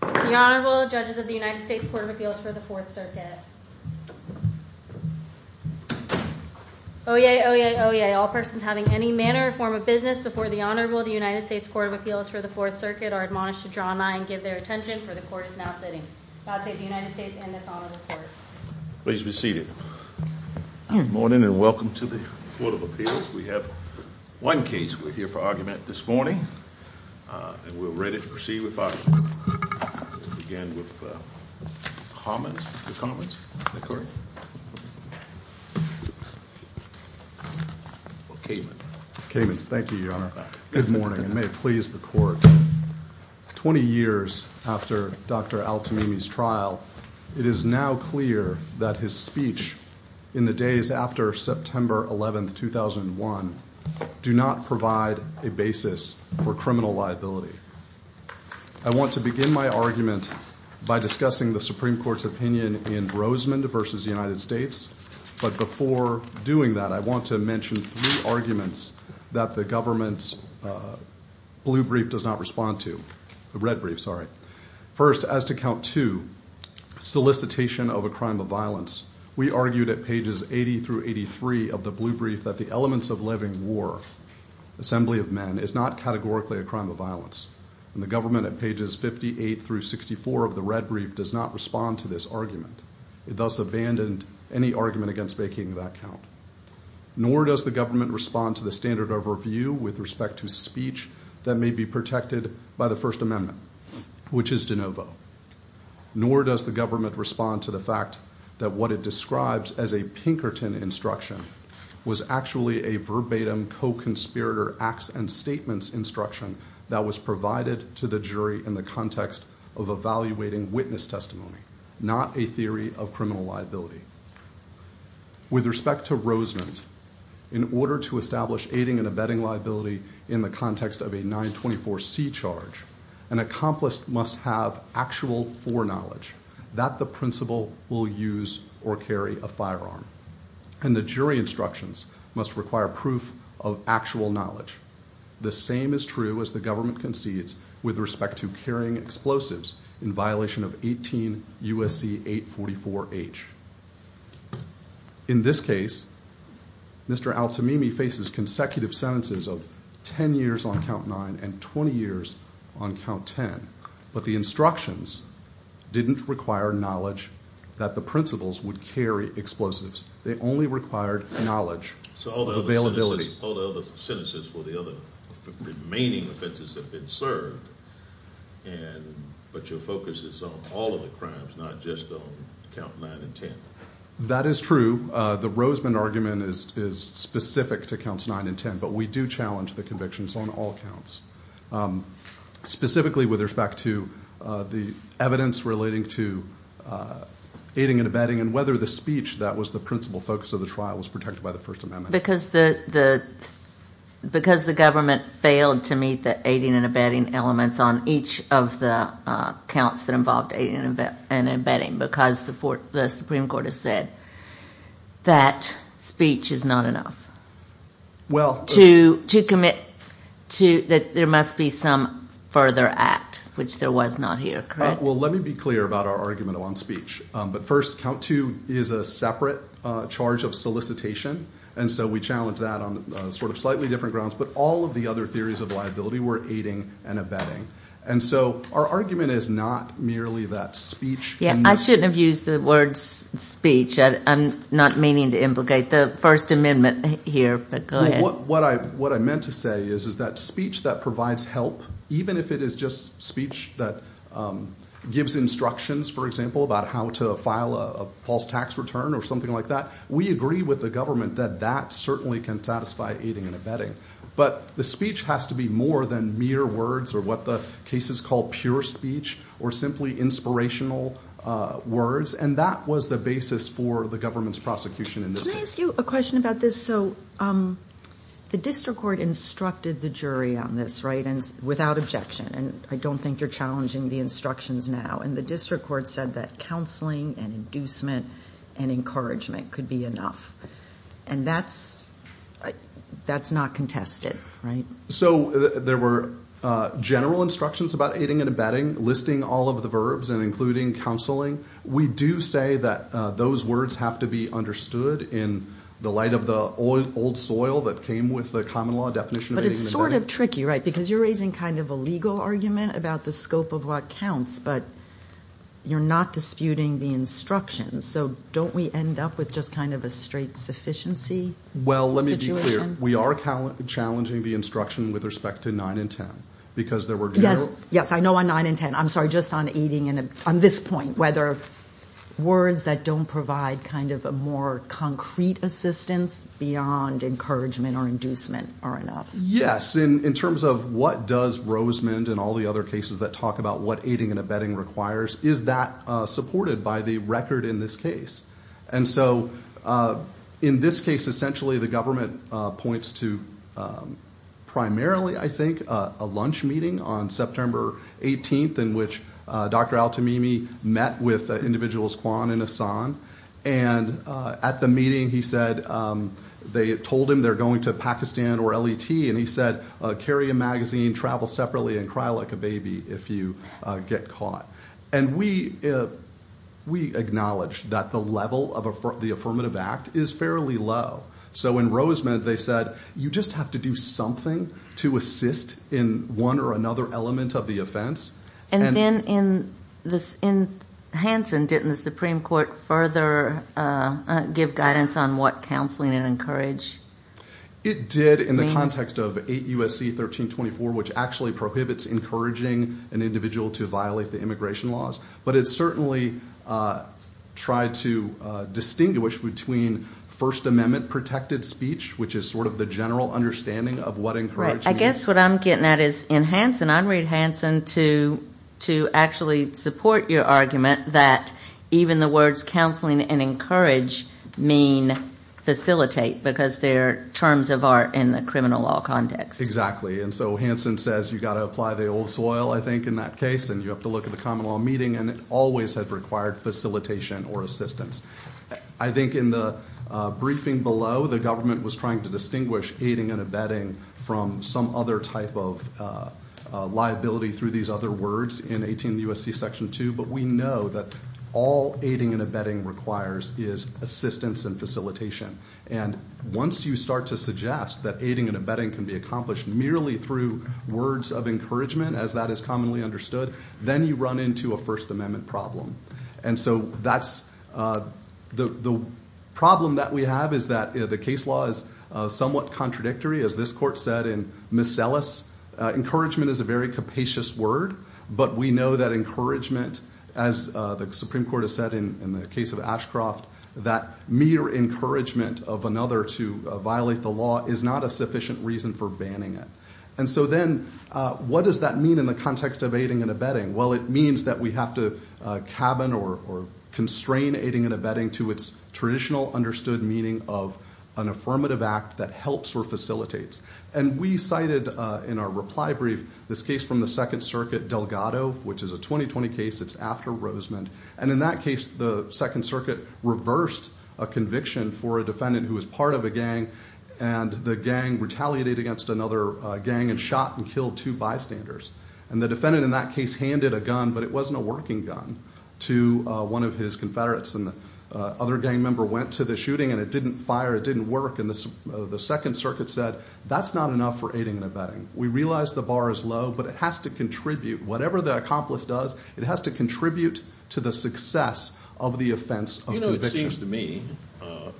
The Honorable Judges of the United States Court of Appeals for the Fourth Circuit. Oyez, oyez, oyez. All persons having any manner or form of business before the Honorable of the United States Court of Appeals for the Fourth Circuit are admonished to draw nigh and give their attention for the court is now sitting. I'll take the United States and this Honorable Court. Please be seated. Good morning and welcome to the Court of Appeals. We have one case. We're ready to proceed with our to begin with the commons. The commons. Caymans. Thank you, Your Honor. Good morning and may it please the court. Twenty years after Dr. Al-Timimi's trial, it is now clear that his speech in the days after September 11, 2001, do not provide a basis for criminal liability. I want to begin my argument by discussing the Supreme Court's opinion in Rosemond v. United States. But before doing that, I want to mention three arguments that the government's blue brief does not respond to. The red brief, sorry. First, as to count two, solicitation of a crime of violence. We argued at pages 80 through 83 of the blue brief that the elements of living war, assembly of men, is not categorically a crime of violence. And the government at pages 58 through 64 of the red brief does not respond to this argument. It thus abandoned any argument against making that count. Nor does the government respond to the standard overview with respect to speech that may be protected by the First Amendment, which is de novo. Nor does the government respond to the fact that what it describes as a Pinkerton instruction was actually a verbatim co-conspirator acts and statements instruction that was provided to the jury in the context of evaluating witness testimony, not a theory of criminal liability. With respect to Rosemond, in order to establish aiding and abetting liability in the context of a 924C charge, an accomplice must have actual foreknowledge that the principal will use or carry a firearm. And the jury instructions must require proof of actual knowledge. The same is true as the government concedes with respect to carrying explosives in violation of 18 U.S.C. 844H. In this case, Mr. Altamimi faces consecutive sentences of 10 years on count 9 and 20 years on count 10. But the instructions didn't require knowledge that the principals would carry explosives. They only required knowledge. So all the other sentences for the other remaining offenses have been served, but your focus is on all of the crimes, not just on count 9 and 10. That is true. The Rosemond argument is specific to counts 9 and 10, but we do challenge the convictions on all counts. Specifically with respect to the evidence relating to aiding and abetting and whether the speech that was the principal focus of the trial was protected by the First Amendment. Because the government failed to meet the aiding and abetting elements on each of the counts that involved aiding and abetting because the Supreme Court has said that speech is not enough to commit to that there must be some further act, which there was not here. Well, let me be clear about our argument on speech. But first, count 2 is a separate charge of solicitation. And so we challenge that on sort of slightly different grounds. But all of the other liability were aiding and abetting. And so our argument is not merely that speech. Yeah, I shouldn't have used the words speech. I'm not meaning to implicate the First Amendment here, but go ahead. What I meant to say is that speech that provides help, even if it is just speech that gives instructions, for example, about how to file a false tax return or something like that, we agree with the government that that certainly can satisfy aiding and abetting. But the speech has to be more than mere words or what the cases call pure speech or simply inspirational words. And that was the basis for the government's prosecution in this case. Can I ask you a question about this? So the district court instructed the jury on this, right, without objection. And I don't think you're challenging the instructions now. And the district court said that counseling and inducement and encouragement could be enough. And that's not contested, right? So there were general instructions about aiding and abetting, listing all of the verbs and including counseling. We do say that those words have to be understood in the light of the old soil that came with the common law definition. But it's sort of tricky, right? Because you're raising kind of a legal argument about the scope of what counts, but you're not disputing the instructions. So don't we end up with just kind of a straight sufficiency situation? Well, let me be clear. We are challenging the instruction with respect to 9 and 10, because there were general- Yes, I know on 9 and 10. I'm sorry, just on aiding and abetting. On this point, whether words that don't provide kind of a more concrete assistance beyond encouragement or inducement are enough. Yes. In terms of what does Rosemond and all the other cases that talk about what aiding and abetting requires, is that supported by the record in this case? And so in this case, essentially, the government points to primarily, I think, a lunch meeting on September 18th, in which Dr. Al-Tamimi met with individuals Kwon and Ahsan. And at the meeting, he said, they told him they're going to Pakistan or L.E.T. And he said, carry a magazine, travel separately, and cry like a baby if you get caught. And we acknowledged that the level of the affirmative act is fairly low. So in Rosemond, they said, you just have to do something to assist in one or another element of the offense. And then in Hanson, didn't the Supreme Court further give guidance on what counseling and encourage? It did in the context of 8 U.S.C. 1324, which actually prohibits encouraging an individual to violate the immigration laws. But it certainly tried to distinguish between First Amendment protected speech, which is sort of the general understanding of what encourage means. I guess what I'm getting at is, in Hanson, I'm read Hanson to actually support your argument that even the words counseling and encourage mean facilitate, because they're terms of art in the criminal law context. Exactly. And so Hanson says, you got to apply the old soil, I think, in that case. And you have to look at the common law meeting. And it always had required facilitation or assistance. I think in the briefing below, the government was trying to distinguish aiding and abetting from some other type of liability through these other words in 18 U.S.C. Section 2. But we know that all aiding and abetting requires is assistance and facilitation. And once you start to suggest that aiding and abetting can be accomplished merely through words of encouragement, as that is commonly understood, then you run into a First Amendment problem. And so the problem that we have is that the case law is somewhat contradictory, as this court said in Miscellus. Encouragement is a very capacious word. But we know that as the Supreme Court has said in the case of Ashcroft, that mere encouragement of another to violate the law is not a sufficient reason for banning it. And so then, what does that mean in the context of aiding and abetting? Well, it means that we have to cabin or constrain aiding and abetting to its traditional understood meaning of an affirmative act that helps or facilitates. And we cited in our reply brief this case from the Second Circuit, Delgado, which is a 2020 case. It's after Rosemond. And in that case, the Second Circuit reversed a conviction for a defendant who was part of a gang, and the gang retaliated against another gang and shot and killed two bystanders. And the defendant in that case handed a gun, but it wasn't a working gun, to one of his Confederates. And the other gang member went to the shooting, and it didn't fire. It didn't work. And the Second Circuit said, that's not enough for aiding and abetting. We realize the bar is low, but it has to contribute whatever the accomplice does. It has to contribute to the success of the offense of conviction. You know, it seems to me,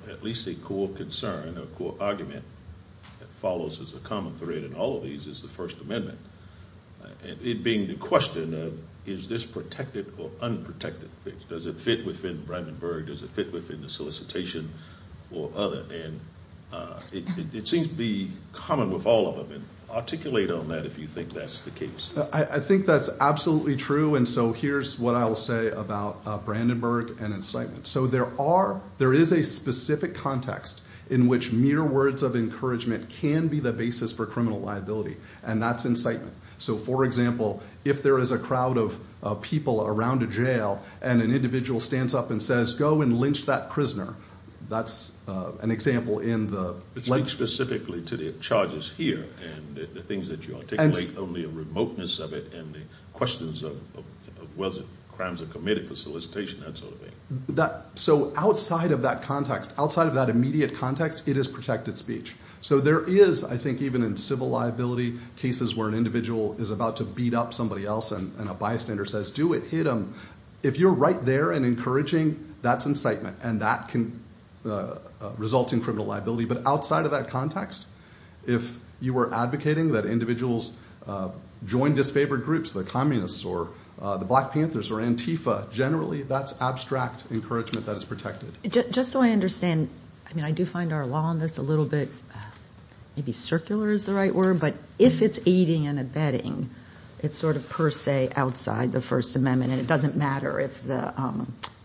at least a core concern or core argument that follows as a common thread in all of these is the First Amendment. It being the question of, is this protected or unprotected? Does it fit within Brandenburg? Does it fit within the solicitation or other? And it seems to be common with all of them. And articulate on that if you think that's the case. I think that's absolutely true. And so here's what I'll say about Brandenburg and incitement. So there are, there is a specific context in which mere words of encouragement can be the basis for criminal liability. And that's incitement. So for example, if there is a crowd of people around a jail, and an individual stands up and says, go and lynch that prisoner. That's an example in the- Speak specifically to the charges here, and the things that you articulate, only a remoteness of it, and the questions of whether crimes are committed for solicitation, that sort of thing. So outside of that context, outside of that immediate context, it is protected speech. So there is, I think, even in civil liability, cases where an individual is about to beat up somebody else, and a bystander says, do it, hit him. If you're right there and encouraging, that's incitement. And that can result in criminal liability. But outside of that context, if you were advocating that individuals join disfavored groups, the communists, or the Black Panthers, or Antifa, generally, that's abstract encouragement that is protected. Just so I understand, I mean, I do find our law on this a little bit, maybe circular is the right word, but if it's aiding and abetting, it's sort of per se, outside the First Amendment, and it doesn't matter if the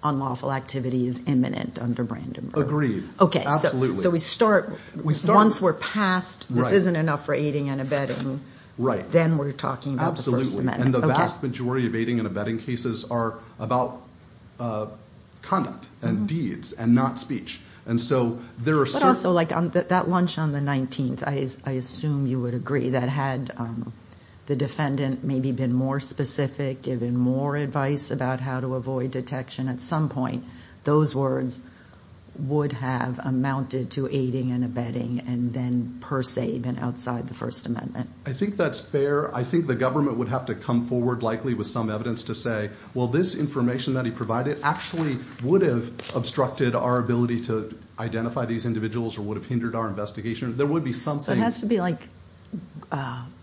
unlawful activity is imminent under Brandenburg. Agreed. Okay. Absolutely. So we start, once we're past, this isn't enough for aiding and abetting, then we're talking about the First Amendment. Absolutely. And the vast majority of aiding and abetting cases are about conduct, and deeds, and not speech. And so there are certain- But also, that lunch on the 19th, I assume you would agree, that had the defendant maybe been more specific, given more advice about how to avoid detection, at some point, those words would have amounted to aiding and abetting, and then per se, been outside the First Amendment. I think that's fair. I think the government would have to come forward, likely, with some evidence to say, well, this information that he provided actually would have obstructed our ability to identify these individuals, or would have hindered our investigation. There would be something- It has to be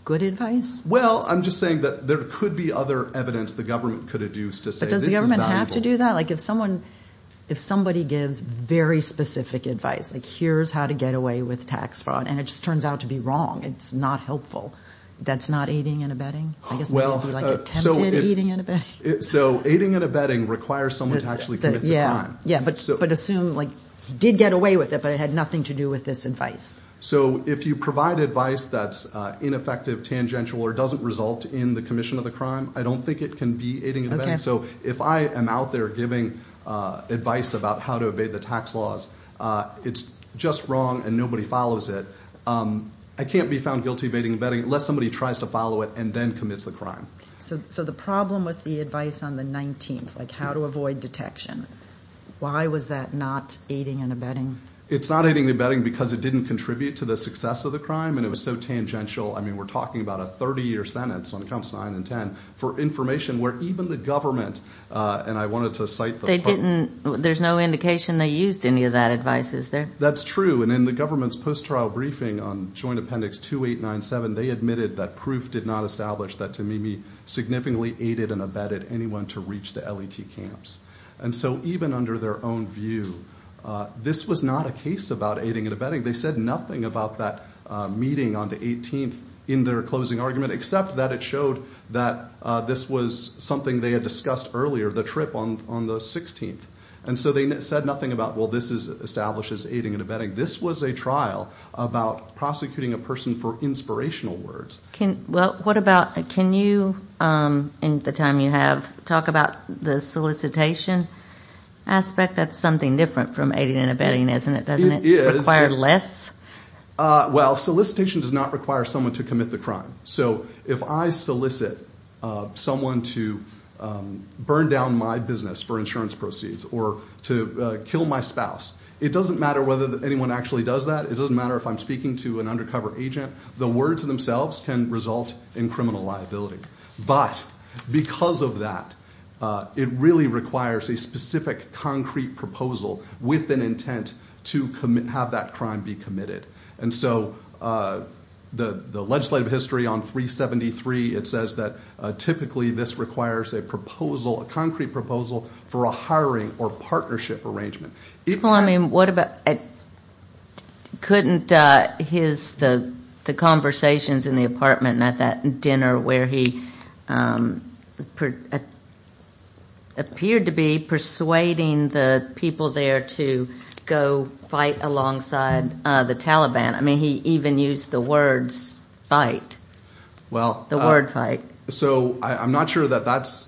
good advice? Well, I'm just saying that there could be other evidence the government could adduce to say this is valuable. But does the government have to do that? If somebody gives very specific advice, like here's how to get away with tax fraud, and it just turns out to be wrong, it's not helpful, that's not aiding and abetting? I guess it would be like attempted aiding and abetting. So aiding and abetting requires someone to actually commit the crime. Yeah. But assume he did get away with it, but it had nothing to do with this advice. So if you provide advice that's ineffective, tangential, or doesn't result in the commission of the crime, I don't think it can be aiding and abetting. So if I am out there giving advice about how to evade the tax laws, it's just wrong and nobody follows it, I can't be found guilty of aiding and abetting unless somebody tries to follow it and then commits the crime. So the problem with the advice on the 19th, like how to avoid detection, why was that not aiding and abetting? It's not aiding and abetting because it didn't contribute to the success of the crime, and it was so tangential. I mean, we're talking about a 30-year sentence on counts 9 and 10 for information where even the government, and I wanted to cite the- They didn't, there's no indication they used any of that advice, is there? That's true. And in the government's post-trial briefing on Joint Appendix 2897, they admitted that proof did not establish that Tamimi significantly aided and abetted anyone to reach the L.E.T. camps. And so even under their own view, this was not a case about aiding and abetting. They said nothing about that meeting on the 18th in their closing argument except that it showed that this was something they had discussed earlier, the trip on the 16th. And so they said nothing about, well, this establishes aiding and abetting. This was a trial about prosecuting a person for inspirational words. Well, what about, can you, in the time you have, talk about the solicitation aspect? That's something different from aiding and abetting, isn't it? Doesn't it require less? Well, solicitation does not require someone to commit the crime. So if I solicit someone to burn down my business for insurance proceeds or to kill my spouse, it doesn't matter whether anyone actually does that. It doesn't matter if I'm speaking to an undercover agent. The words themselves can result in criminal liability. But because of that, it really requires a specific concrete proposal with an intent to have that crime be committed. And so the legislative history on 373, it says that typically this requires a proposal, a concrete proposal for a hiring or partnership arrangement. Well, I mean, what about, couldn't his, the conversations in the apartment at that dinner where he appeared to be persuading the people there to go fight alongside the Taliban. I mean, he even used the words fight. The word fight. So I'm not sure that that's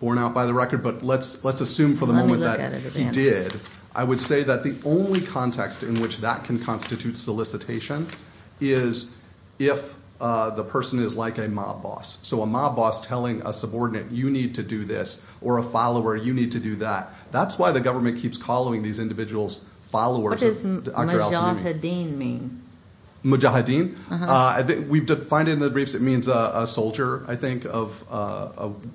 borne out by the record, but let's assume for the moment that he did, I would say that the only context in which that can constitute solicitation is if the person is like a mob boss. So a mob boss telling a subordinate, you need to do this, or a follower, you need to do that. That's why the government keeps calling these individuals followers. What does Mujahideen mean? Mujahideen? We've defined it in the briefs. It means a soldier, I think, of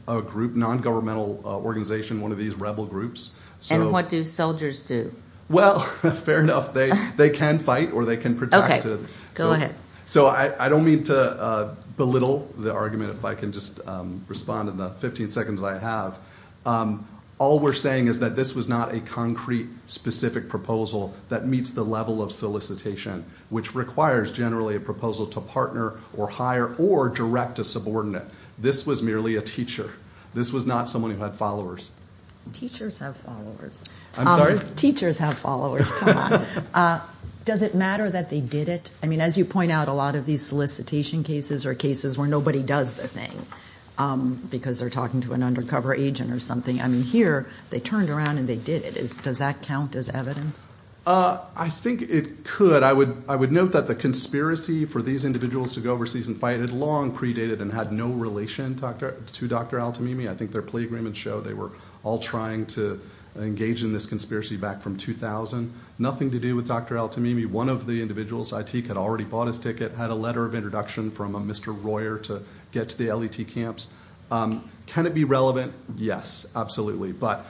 a group, non-governmental organization, one of these rebel groups. And what do soldiers do? Well, fair enough. They can fight or they can protect. Okay, go ahead. So I don't mean to belittle the argument, if I can just respond in the 15 seconds I have. All we're saying is that this was not a concrete, specific proposal that meets the level of solicitation, which requires generally a proposal to partner or hire or direct a subordinate. This was merely a teacher. This was not someone who had followers. Teachers have followers. I'm sorry? Teachers have followers. Does it matter that they did it? I mean, as you point out, a lot of these solicitation cases are cases where nobody does the thing because they're talking to an undercover agent or something. I mean, here, they turned around and they did it. Does that count as evidence? I think it could. I would note that the conspiracy for these individuals to go overseas and fight had long predated and had no relation to Dr. Al-Tamimi. I think their agreements show they were all trying to engage in this conspiracy back from 2000. Nothing to do with Dr. Al-Tamimi. One of the individuals, Aitik, had already bought his ticket, had a letter of introduction from a Mr. Royer to get to the L.E.T. camps. Can it be relevant? Yes, absolutely. But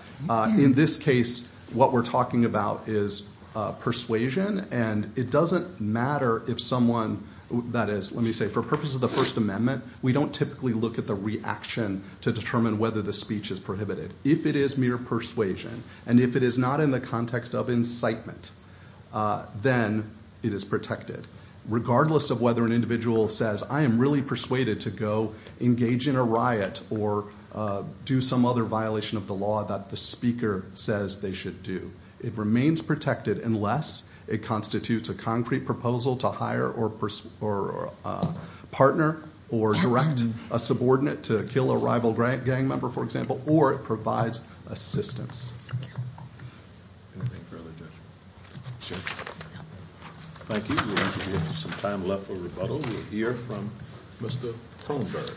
in this case, what we're talking about is persuasion, and it doesn't matter if someone, that is, let me say, for purposes of the First Amendment, is prohibited. If it is mere persuasion, and if it is not in the context of incitement, then it is protected. Regardless of whether an individual says, I am really persuaded to go engage in a riot or do some other violation of the law that the speaker says they should do, it remains protected unless it constitutes a concrete proposal to hire or partner or direct a subordinate to kill a rival gang member, for example, or it provides assistance. Thank you. We have some time left for rebuttal. We'll hear from Mr. Holmberg.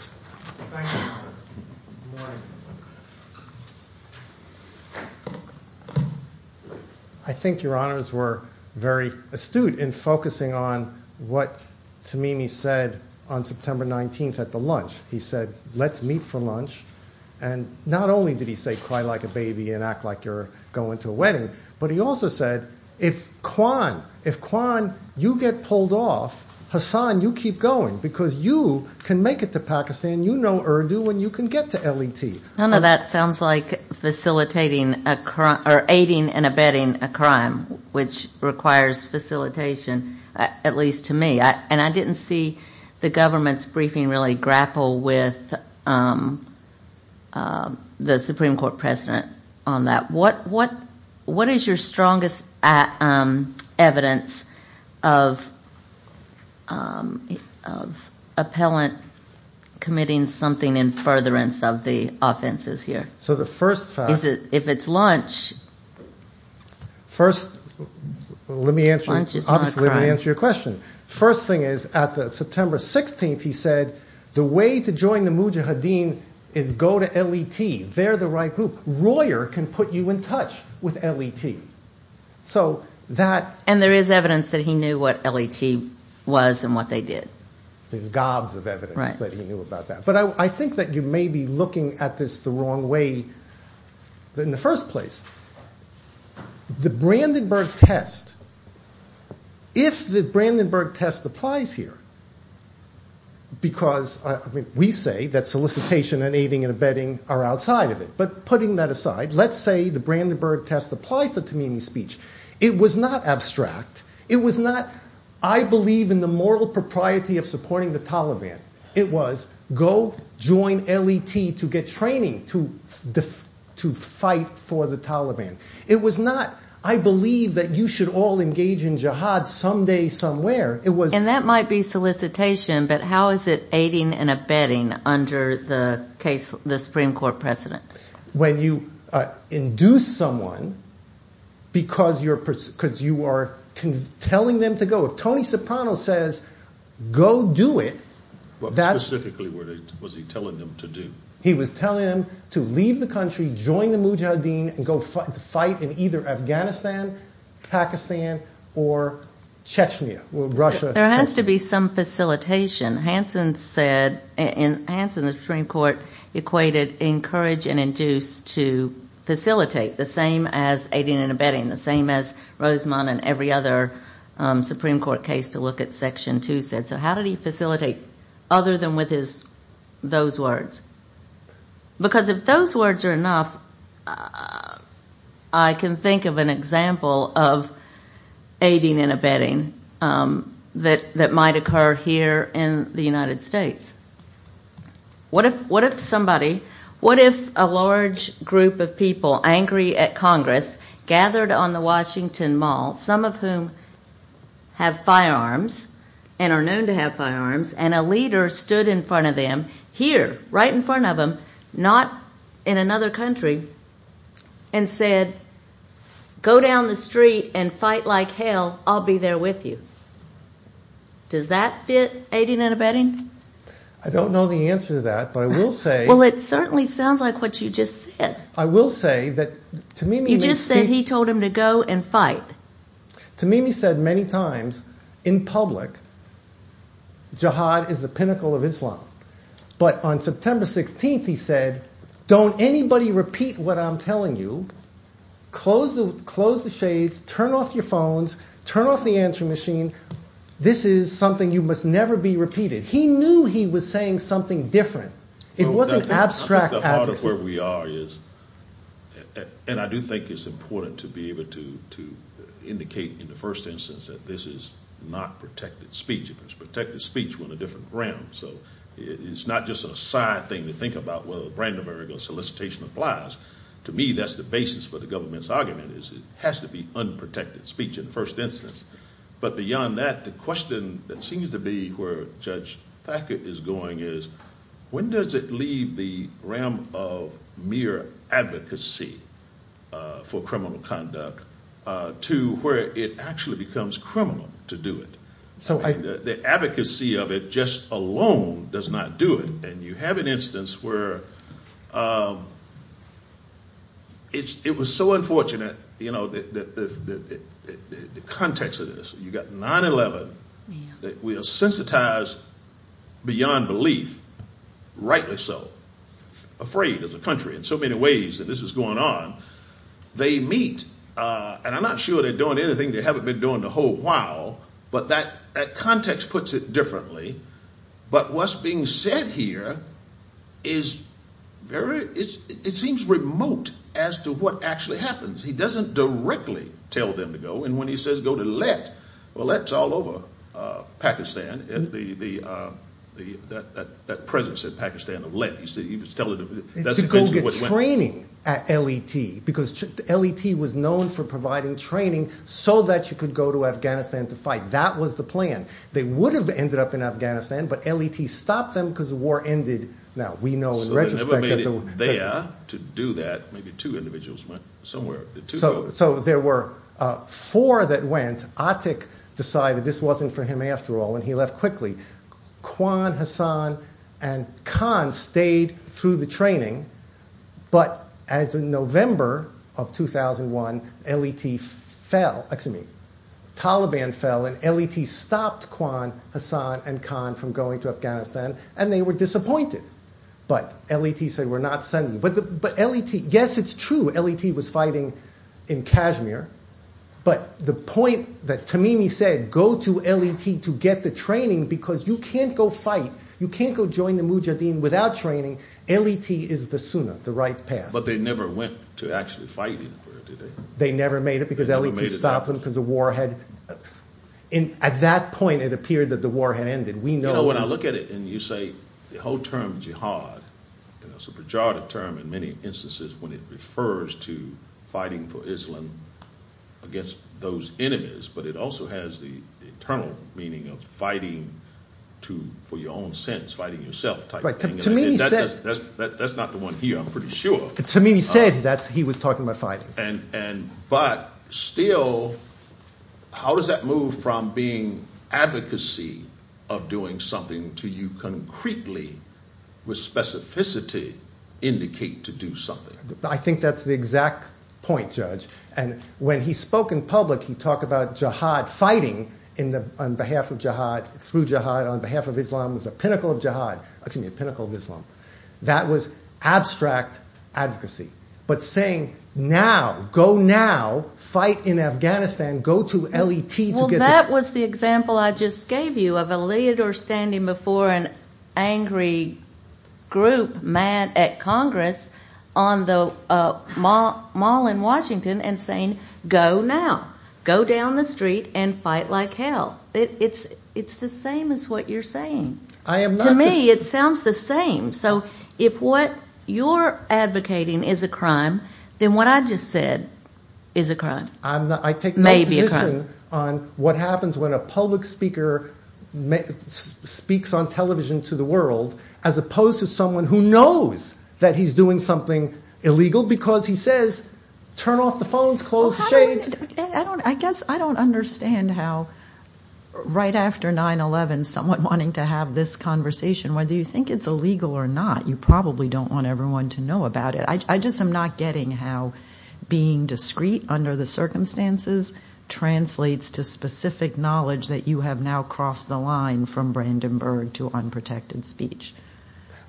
I think your honors were very astute in focusing on what Tamimi said on September 19th at the lunch. He said, let's meet for lunch, and not only did he say cry like a baby and act like you're going to a wedding, but he also said, if Kwan, if Kwan, you get pulled off, Hassan, you keep going, because you can make it to Pakistan, you know Urdu, and you can get to L.E.T. None of that sounds like facilitating a crime or aiding and abetting a crime, which requires facilitation, at least to me, and I didn't see the government's briefing really grapple with the Supreme Court precedent on that. What is your strongest evidence of appellant committing something in furtherance of the offenses here? The first thing is, at the September 16th, he said, the way to join the Mujahideen is go to L.E.T. They're the right group. Royer can put you in touch with L.E.T. And there is evidence that he knew what L.E.T. was and what they did. There's gobs of evidence that he knew about that, but I think that you may be looking at this the wrong way in the first place. The Brandenburg test, if the Brandenburg test applies here, because, I mean, we say that solicitation and aiding and abetting are outside of it, but putting that aside, let's say the Brandenburg test applies to Tamimi's speech. It was not abstract. It was not, I believe in the moral propriety of supporting the Taliban. It was, go join L.E.T. to get training to fight for the Taliban. It was not, I believe that you should all engage in jihad someday, somewhere. And that might be solicitation, but how is it aiding and abetting under the Supreme Court precedent? When you induce someone because you are telling them to go. If Tony Soprano says, go do it. Specifically, what was he telling them to do? He was telling them to leave the country, join the Mujahideen, and go fight in either Afghanistan, Pakistan, or Chechnya, Russia. There has to be some facilitation. Hansen said, in Hansen, the Supreme Court equated encourage and induce to facilitate, the same as aiding and abetting, the same as Rosamond and every other Supreme Court case to look at Section 2 said. So how did he facilitate other than with his, those words? Because if those words are enough, I can think of an example of aiding and abetting that might occur here in the United States. What if somebody, what if a large group of people, angry at Congress, gathered on the Washington Mall, some of whom have firearms and are known to have firearms, and a leader stood in front of them, here, right in front of them, not in another country, and said, go down the street and fight like hell, I'll be there with you. Does that fit aiding and abetting? I don't know the answer to that, but I will say. Well, it certainly sounds like what you just said. I will say that to me. You just said he told him to go and fight. To me, he said many times in public, Jihad is the pinnacle of Islam. But on September 16th, he said, don't anybody repeat what I'm telling you. Close the shades, turn off your phones, turn off the answering machine. This is something you must never be repeated. He knew he was saying something different. It wasn't abstract advocacy. I think the heart of where we are is, and I do think it's important to be able to indicate in the first instance that this is not protected speech. If it's protected speech, we're in a different realm. So it's not just a side thing to think about whether a random or illegal solicitation applies. To me, that's the basis for the government's argument is it has to be unprotected speech in the first instance. But beyond that, the question that seems to be where Judge Thacker is going is, when does it leave the realm of mere advocacy for criminal conduct to where it actually becomes criminal to do it? The advocacy of it just alone does not do it. And you have an instance where it was so unfortunate that the context of this, you've got 9-11 that we are sensitized beyond belief, rightly so, afraid as a country in so many ways that this is going on. They meet, and I'm not sure they're doing anything they haven't been doing in a whole while, but that context puts it differently. But what's being said here is very, it seems remote as to what actually happens. He doesn't directly tell them to go. And when he says go to Lett, well, Lett's all over Pakistan, that presence in Pakistan of Lett. He was telling them, to go get training at Lett, because Lett was known for providing training so that you could go to Afghanistan to fight. That was the plan. They would have ended up in Afghanistan, but Lett stopped them because the war ended. Now, we know in retrospect that they were there to do that. Maybe two individuals went somewhere. So there were four that went. Atik decided this wasn't for him after all, and he left quickly. Kwan, Hassan, and Khan stayed through the training. But as of November of 2001, Taliban fell, and Lett stopped Kwan, Hassan, and Khan from going to Afghanistan, and they were disappointed. But Lett said, we're not sending you. Yes, it's true, Lett was fighting in Kashmir. But the point that Tamimi said, go to Lett to get the training, because you can't go fight. You can't go join the Mujahideen without training. Lett is the sunnah, the right path. But they never went to actually fight anywhere, did they? They never made it because Lett stopped them because the war had... At that point, it appeared that the war had ended. We know... When I look at it, and you say the whole term jihad, and it's a pejorative term in many instances when it refers to fighting for Islam against those enemies, but it also has the internal meaning of fighting for your own sense, fighting yourself type thing. That's not the one here, I'm pretty sure. Tamimi said that he was talking about fighting. But still, how does that from being advocacy of doing something to you concretely, with specificity, indicate to do something? I think that's the exact point, Judge. And when he spoke in public, he talked about jihad fighting on behalf of jihad, through jihad on behalf of Islam was a pinnacle of jihad, excuse me, a pinnacle of Islam. That was abstract advocacy. But saying, now, go now, fight in Afghanistan, go to Lett to get the... Well, that was the example I just gave you of a leader standing before an angry group, mad at Congress, on the mall in Washington and saying, go now, go down the street and fight like hell. It's the same as what you're saying. I am not... To me, it sounds the same. So if what you're advocating is a crime, then what I just said is a crime, maybe a crime. I take no position on what happens when a public speaker speaks on television to the world, as opposed to someone who knows that he's doing something illegal, because he says, turn off the phones, close the shades. I guess I don't understand how, right after 9-11, someone wanting to have this conversation, whether you think it's or not, you probably don't want everyone to know about it. I just am not getting how being discreet under the circumstances translates to specific knowledge that you have now crossed the line from Brandenburg to unprotected speech.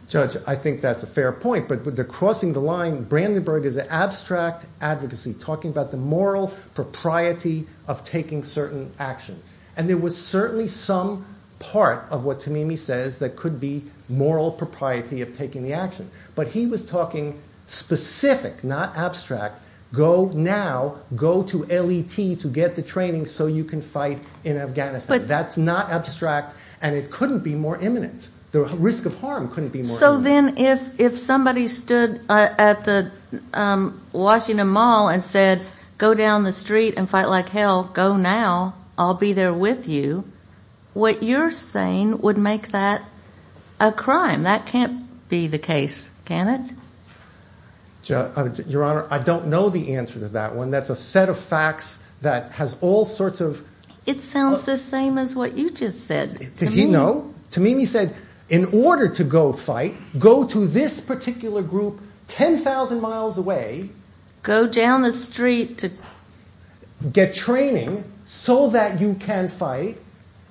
Judge, I think that's a fair point. But the crossing the line, Brandenburg is an abstract advocacy, talking about the moral propriety of taking certain action. And there was certainly some part of what Tamimi says that could be moral propriety of taking the action. But he was talking specific, not abstract, go now, go to L.E.T. to get the training so you can fight in Afghanistan. That's not abstract, and it couldn't be more imminent. The risk of harm couldn't be more imminent. So then if somebody stood at the Washington Mall and said, go down the street and fight like hell, go now, I'll be there with you, what you're saying would make that a crime. That can't be the case, can it? Your Honor, I don't know the answer to that one. That's a set of facts that has all sorts of It sounds the same as what you just said. Did he know? Tamimi said, in order to go fight, go to this particular group, 10,000 miles away, go down the street to get training so that you can fight.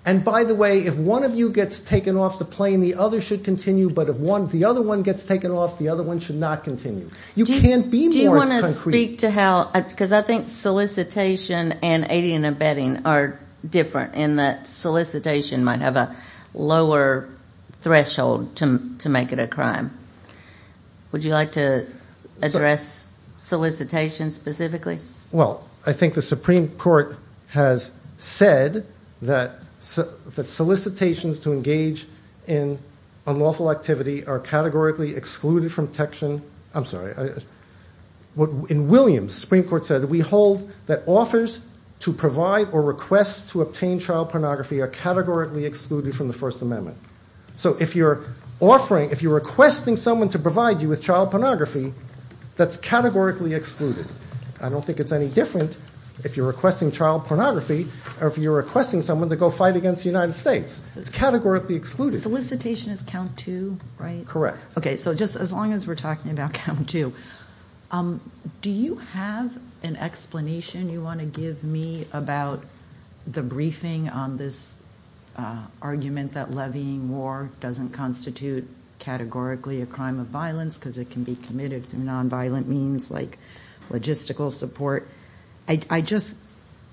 And by the way, if one of you gets taken off the plane, the other should continue. But if the other one gets taken off, the other one should not continue. You can't be more concrete. Do you want to speak to how, because I think solicitation and aiding and abetting are different in that solicitation might have a lower threshold to make it a crime. Would you like to address solicitation specifically? Well, I think the Supreme Court has said that solicitations to engage in unlawful activity are categorically excluded from protection. I'm sorry. In Williams, the Supreme Court said that we hold that offers to provide or request to obtain child pornography are categorically excluded from the First Amendment. So if you're requesting someone to provide you with child pornography, that's categorically excluded. I don't think it's any different if you're requesting child pornography or if you're requesting someone to go fight against the United States. It's categorically excluded. Solicitation is count two, right? Correct. Okay. So just as long as we're talking about count two. Do you have an explanation you want to give me about the briefing on this argument that levying war doesn't constitute categorically a crime of violence because it can be committed through nonviolent means like logistical support? I just,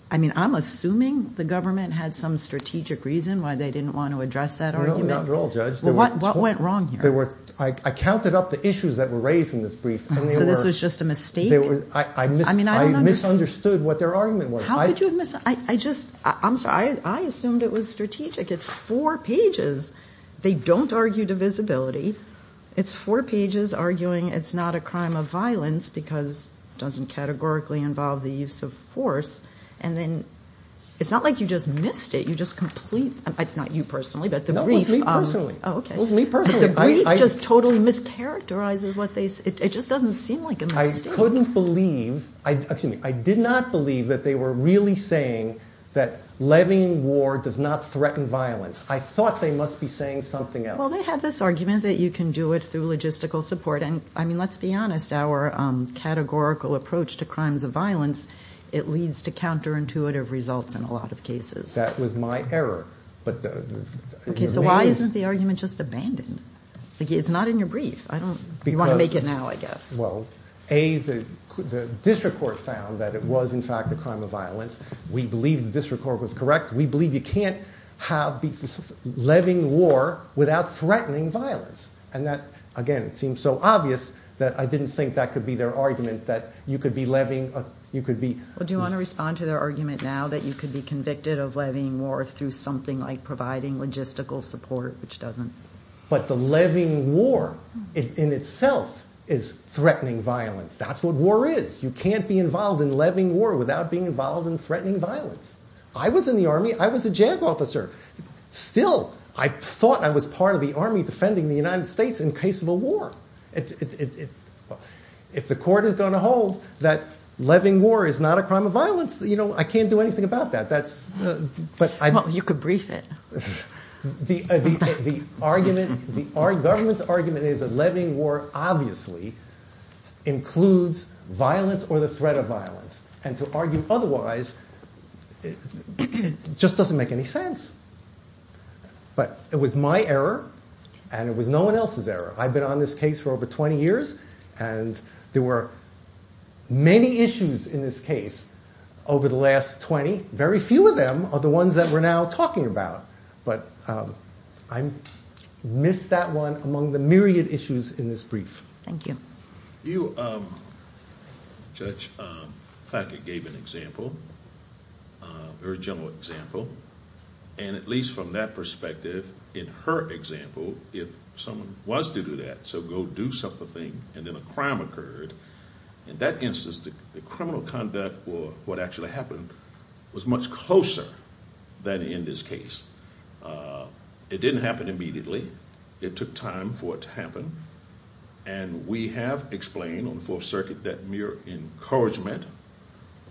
I mean, I'm assuming the government had some strategic reason why they didn't want to address that argument. Not at all, Judge. What went wrong here? I counted up the issues that were raised in this brief. So this was just a mistake? I misunderstood what their argument was. How could you have misunderstood? I just, I'm sorry. I assumed it was strategic. It's four pages. They don't argue divisibility. It's four pages arguing it's not a crime of violence because it doesn't categorically involve the use of force. And then it's not like you just missed it. You just complete, not you personally, but the brief. No, it was me personally. It was me personally. But the brief just totally mischaracterizes what they, it just doesn't seem like a mistake. I couldn't believe, excuse me, I did not believe that they were really saying that levying war does not threaten violence. I thought they must be saying something else. Well, they have this argument that you can do it through logistical support. And I mean, let's be honest, our categorical approach to crimes of violence, it leads to counterintuitive results in a lot of cases. That was my error. Okay, so why isn't the argument just abandoned? It's not in your brief. I don't, you want to make it now, I guess. Well, A, the district court found that it was in fact a crime of violence. We believe the district court was correct. We believe you can't have levying war without threatening violence. And that, again, it seems so obvious that I didn't think that could be their argument, that you could be levying, you could be. Well, do you want to respond to their argument now that you could be convicted of levying war through something like providing logistical support, which doesn't? But the levying war in itself is threatening violence. That's what war is. You can't be involved in levying war without being involved in threatening violence. I was in the Army, I was a JAG officer. Still, I thought I was part of the Army defending the United States in case of a war. If the court is going to hold that levying war is not a crime of violence, you know, I can't do anything about that. Well, you could brief it. The government's argument is that levying war obviously includes violence or the threat of violence. And to argue otherwise just doesn't make any sense. But it was my error and it was no one else's error. I've been on this case for over 20 years and there were many issues in this case over the last 20. Very few of them are the ones that we're now talking about. But I missed that one among the myriad issues in this brief. Thank you. You, Judge, gave an example, a very general example. And at least from that perspective, in her example, if someone was to do that, so go do something and then a crime occurred, in that instance the criminal conduct or what actually happened was much closer than in this case. It didn't happen immediately. It took time for it to happen. And we have explained on the Fourth Circuit that mere encouragement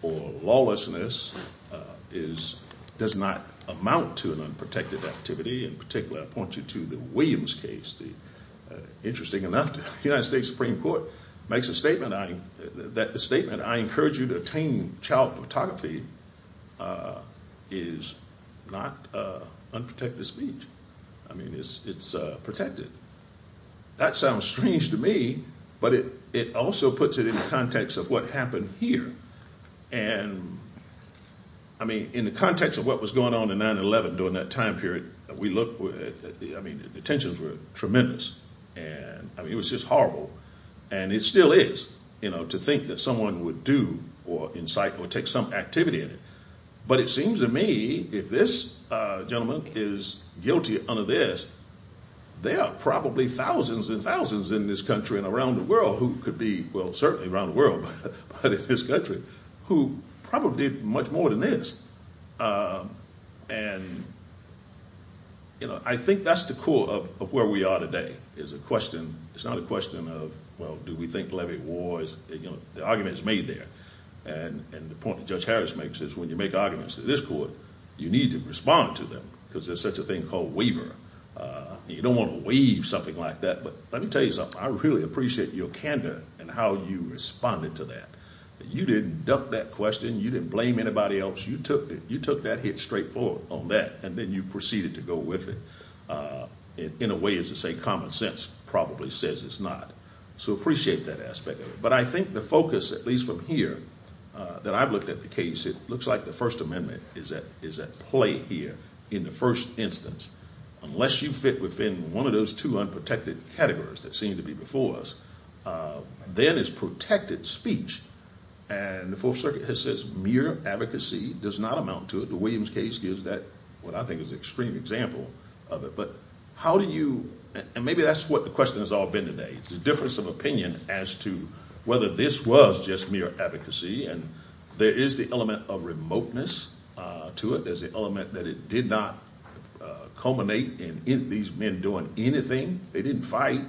or lawlessness does not amount to an unprotected activity. In particular, I point you to the Williams case. Interesting enough, the United States Supreme Court makes a statement that the statement, I encourage you to attain child photography, is not unprotected speech. I mean, it's protected. That sounds strange to me, but it also puts it in the context of what happened here. And I mean, in the context of what was going on in 9-11 during that time period, we looked at the, I mean, the tensions were tremendous and I mean, it was just horrible. And it still is, you know, to think that someone would do or incite or take some activity in it. But it seems to me, if this gentleman is guilty under this, there are probably thousands and thousands in this country and around the world who could be, well, certainly around the world, but in this country, who probably did much more than this. And, you know, I think that's the core of where we are today, is a question, it's not a question of, well, do we think levy war is, the argument is made there. And the point that Judge Harris makes is when you make arguments to this court, you need to respond to them, because there's such a thing called waiver. You don't want to waive something like that. But let me tell you something, I really appreciate your candor and how you responded to that. You didn't duck that question. You didn't blame anybody else. You took that hit straight forward on that, and then you proceeded to go with it, in a way, as they say, common sense probably says it's not. So appreciate that aspect of it. But I think the focus, at least from here, that I've looked at the case, it looks like the First Amendment is at play here in the first instance. Unless you fit within one of those two unprotected categories that seem to be before us, then it's protected speech. And the Fourth Circuit has said mere advocacy does not amount to it. The Williams case gives that, what I think is an extreme example of it. But how do you, and maybe that's what the question has all been today, the difference of opinion as to whether this was just mere advocacy. And there is the element of remoteness to it. There's the element that it did not culminate in these men doing anything. They didn't fight.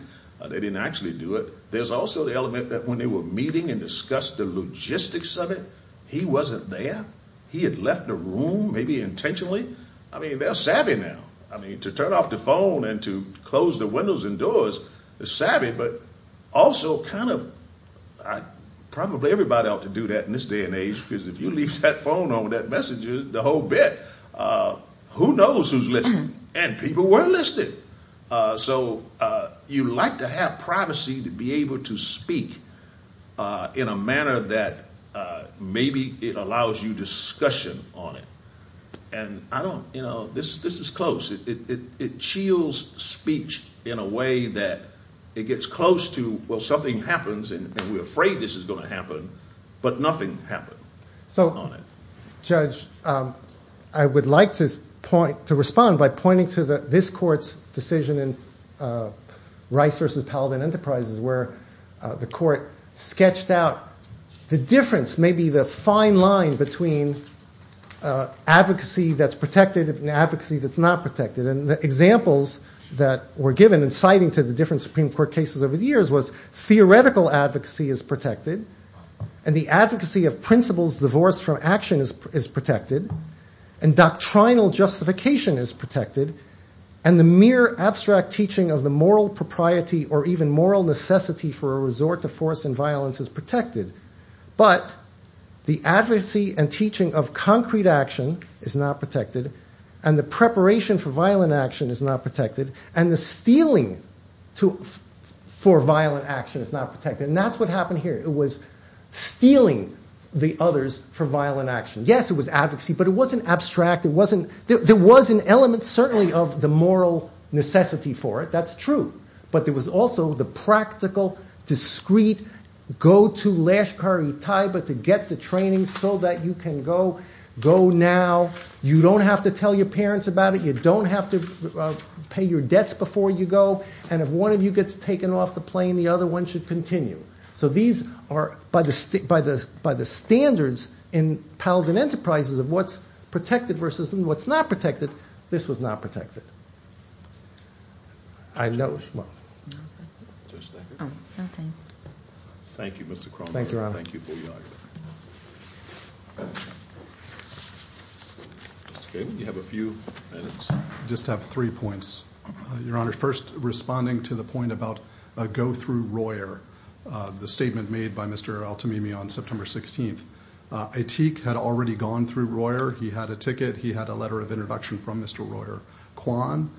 They didn't actually do it. There's also the element that when they were meeting and discussed the logistics of it, he wasn't there. He had left the room, maybe intentionally. I mean, they're savvy now. I mean, to turn off the phone and to close the windows and doors is savvy, but also kind of, probably everybody ought to do that in this day and age, because if you leave that phone on with that message the whole bit, who knows who's listening? And people were listening. So you like to have privacy to be able to speak in a manner that maybe it allows you discussion on it. And I don't, you know, this is close. It chills speech in a way that it gets close to, well, something happens and we're afraid this is going to happen, but nothing happened. So, Judge, I would like to point, to respond by pointing to this court's decision in Rice versus Paladin Enterprises, where the court sketched out the difference, maybe the fine line, between advocacy that's protected and advocacy that's not protected. And the examples that were given in citing to the different Supreme Court cases over the years was theoretical advocacy is protected, and the advocacy of principles divorced from action is protected, and doctrinal justification is protected, and the mere abstract teaching of the moral propriety or even moral necessity for a resort to force and violence is protected. But the advocacy and teaching of concrete action is not protected, and the preparation for violent action is not protected, and the stealing for violent action is not protected. And that's what happened here. It was stealing the others for violent action. Yes, it was advocacy, but it wasn't abstract. It wasn't, there was an element certainly of the moral necessity for it. That's true. But there was also the practical, discreet, go to Lashkar-e-Taiba to get the training so that you can go now, you don't have to tell your parents about it, you don't have to pay your debts before you go, and if one of you gets taken off the plane, the other one should continue. So these are, by the standards in Paladin Enterprises of what's protected versus what's not protected, this was not protected. I know. Well, just thank you. Okay. Thank you, Mr. Croninger. Thank you for your honor. Mr. Kagan, you have a few minutes. I just have three points. Your honor, first responding to the point about a go through Royer, the statement made by Mr. Altamimi on September 16th. Aitik had already gone through Royer. He had a ticket. He had a letter of introduction from Mr. Royer. Quan,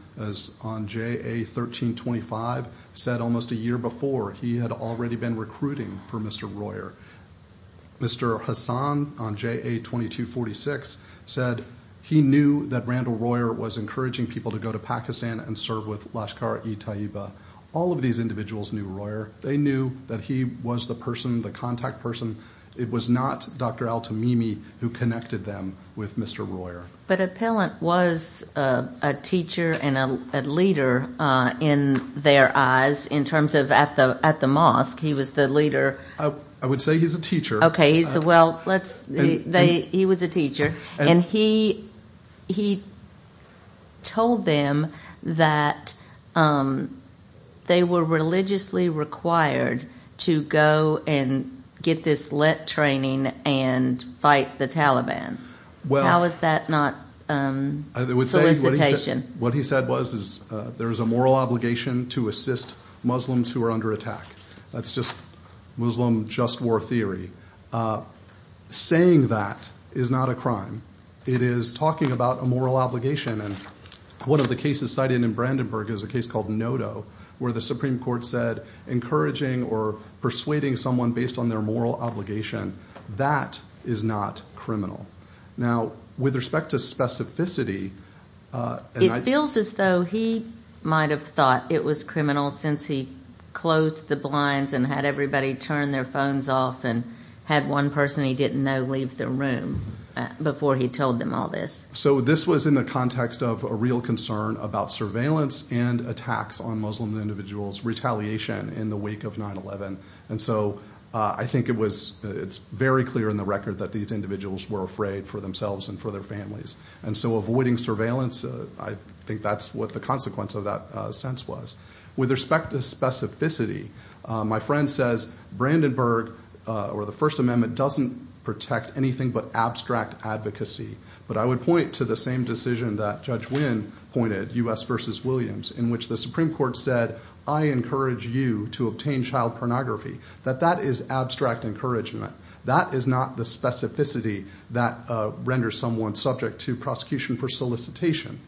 on JA 1325, said almost a year before he had already been recruiting for Mr. Royer. Mr. Hassan, on JA 2246, said he knew that Randall Royer was encouraging people to go to Pakistan and serve with Lashkar-e-Taiba. All of these individuals knew Royer. They knew that he was the person, the contact person. It was not Dr. Altamimi who connected them with Mr. Royer. But Appellant was a teacher and a leader in their eyes, in terms of at the mosque, he was the leader. I would say he's a teacher. Okay. Well, he was a teacher. He told them that they were religiously required to go and get this LIT training and fight the Taliban. How is that not solicitation? What he said was there is a moral obligation to assist Muslims who are under attack. That's just Muslim just war theory. Saying that is not a crime. It is talking about a moral obligation. And one of the cases cited in Brandenburg is a case called Noto, where the Supreme Court said encouraging or persuading someone based on their moral obligation, that is not criminal. Now, with respect to specificity... It feels as though he might have thought it was criminal since he closed the blinds and had everybody turn their phones off and had one person he didn't know leave the room before he told them all this. So this was in the context of a real concern about surveillance and attacks on Muslim individuals, retaliation in the wake of 9-11. And so I think it's very clear in the record that these individuals were afraid for themselves and for their families. And so avoiding surveillance, I think that's what the consequence of that sense was. With respect to specificity, my friend says Brandenburg or the First Amendment doesn't protect anything but abstract advocacy. But I would point to the same decision that Judge Wynn pointed, U.S. v. Williams, in which the Supreme Court said, I encourage you to obtain child pornography. That that is abstract encouragement. That is not the specificity that renders someone subject to prosecution for solicitation,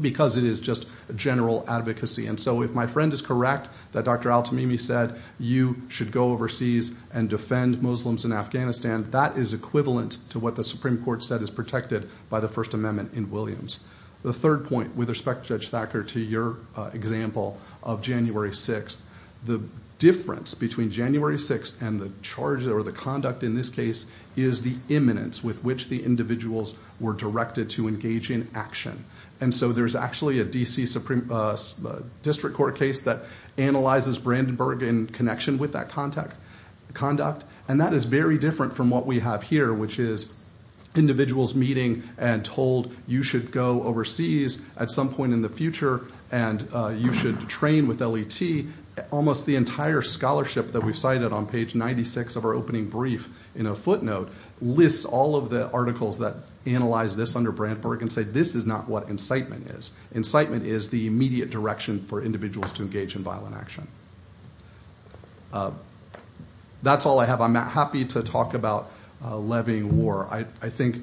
because it is just general advocacy. And so if my friend is correct that Dr. Al-Tamimi said you should go overseas and defend Muslims in Afghanistan, that is equivalent to what the Supreme Court said is by the First Amendment in Williams. The third point, with respect to Judge Thacker, to your example of January 6th, the difference between January 6th and the charge or the conduct in this case is the imminence with which the individuals were directed to engage in action. And so there's actually a D.C. Supreme District Court case that analyzes Brandenburg in connection with that conduct. And that is very different from what we have here, which is individuals meeting and told you should go overseas at some point in the future and you should train with L.E.T. Almost the entire scholarship that we've cited on page 96 of our opening brief in a footnote lists all of the articles that analyze this under Brandenburg and say this is not what incitement is. Incitement is the immediate direction for individuals to engage in violent action. That's all I have. I'm happy to talk about levying war. I think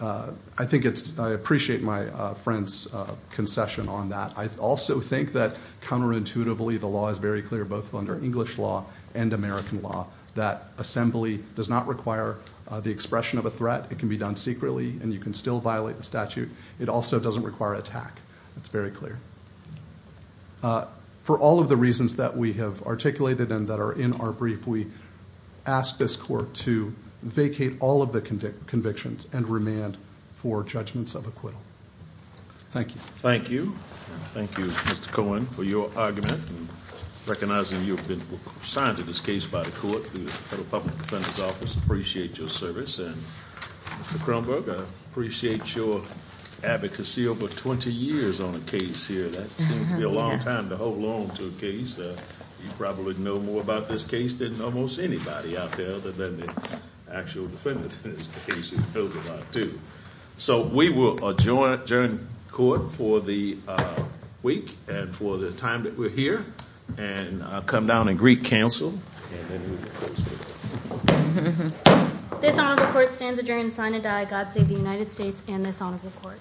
it's, I appreciate my friend's concession on that. I also think that counterintuitively the law is very clear, both under English law and American law, that assembly does not require the expression of a threat. It can be done secretly and you can still violate the statute. It also doesn't require an attack. It's very clear. For all of the reasons that we have articulated and that are in our brief, we ask this court to vacate all of the convictions and remand for judgments of acquittal. Thank you. Thank you. Thank you, Mr. Cohen, for your argument and recognizing you've been assigned to this case by the court and the Federal Public Defender's Appreciate your service and Mr. Kronberg, I appreciate your advocacy over 20 years on a case here. That seems to be a long time to hold on to a case. You probably know more about this case than almost anybody out there other than the actual defendants in this case. So we will adjourn court for the week and for the time that we're here and I'll come down and greet counsel. This honorable court stands adjourned sign and die. God save the United States and this honorable court.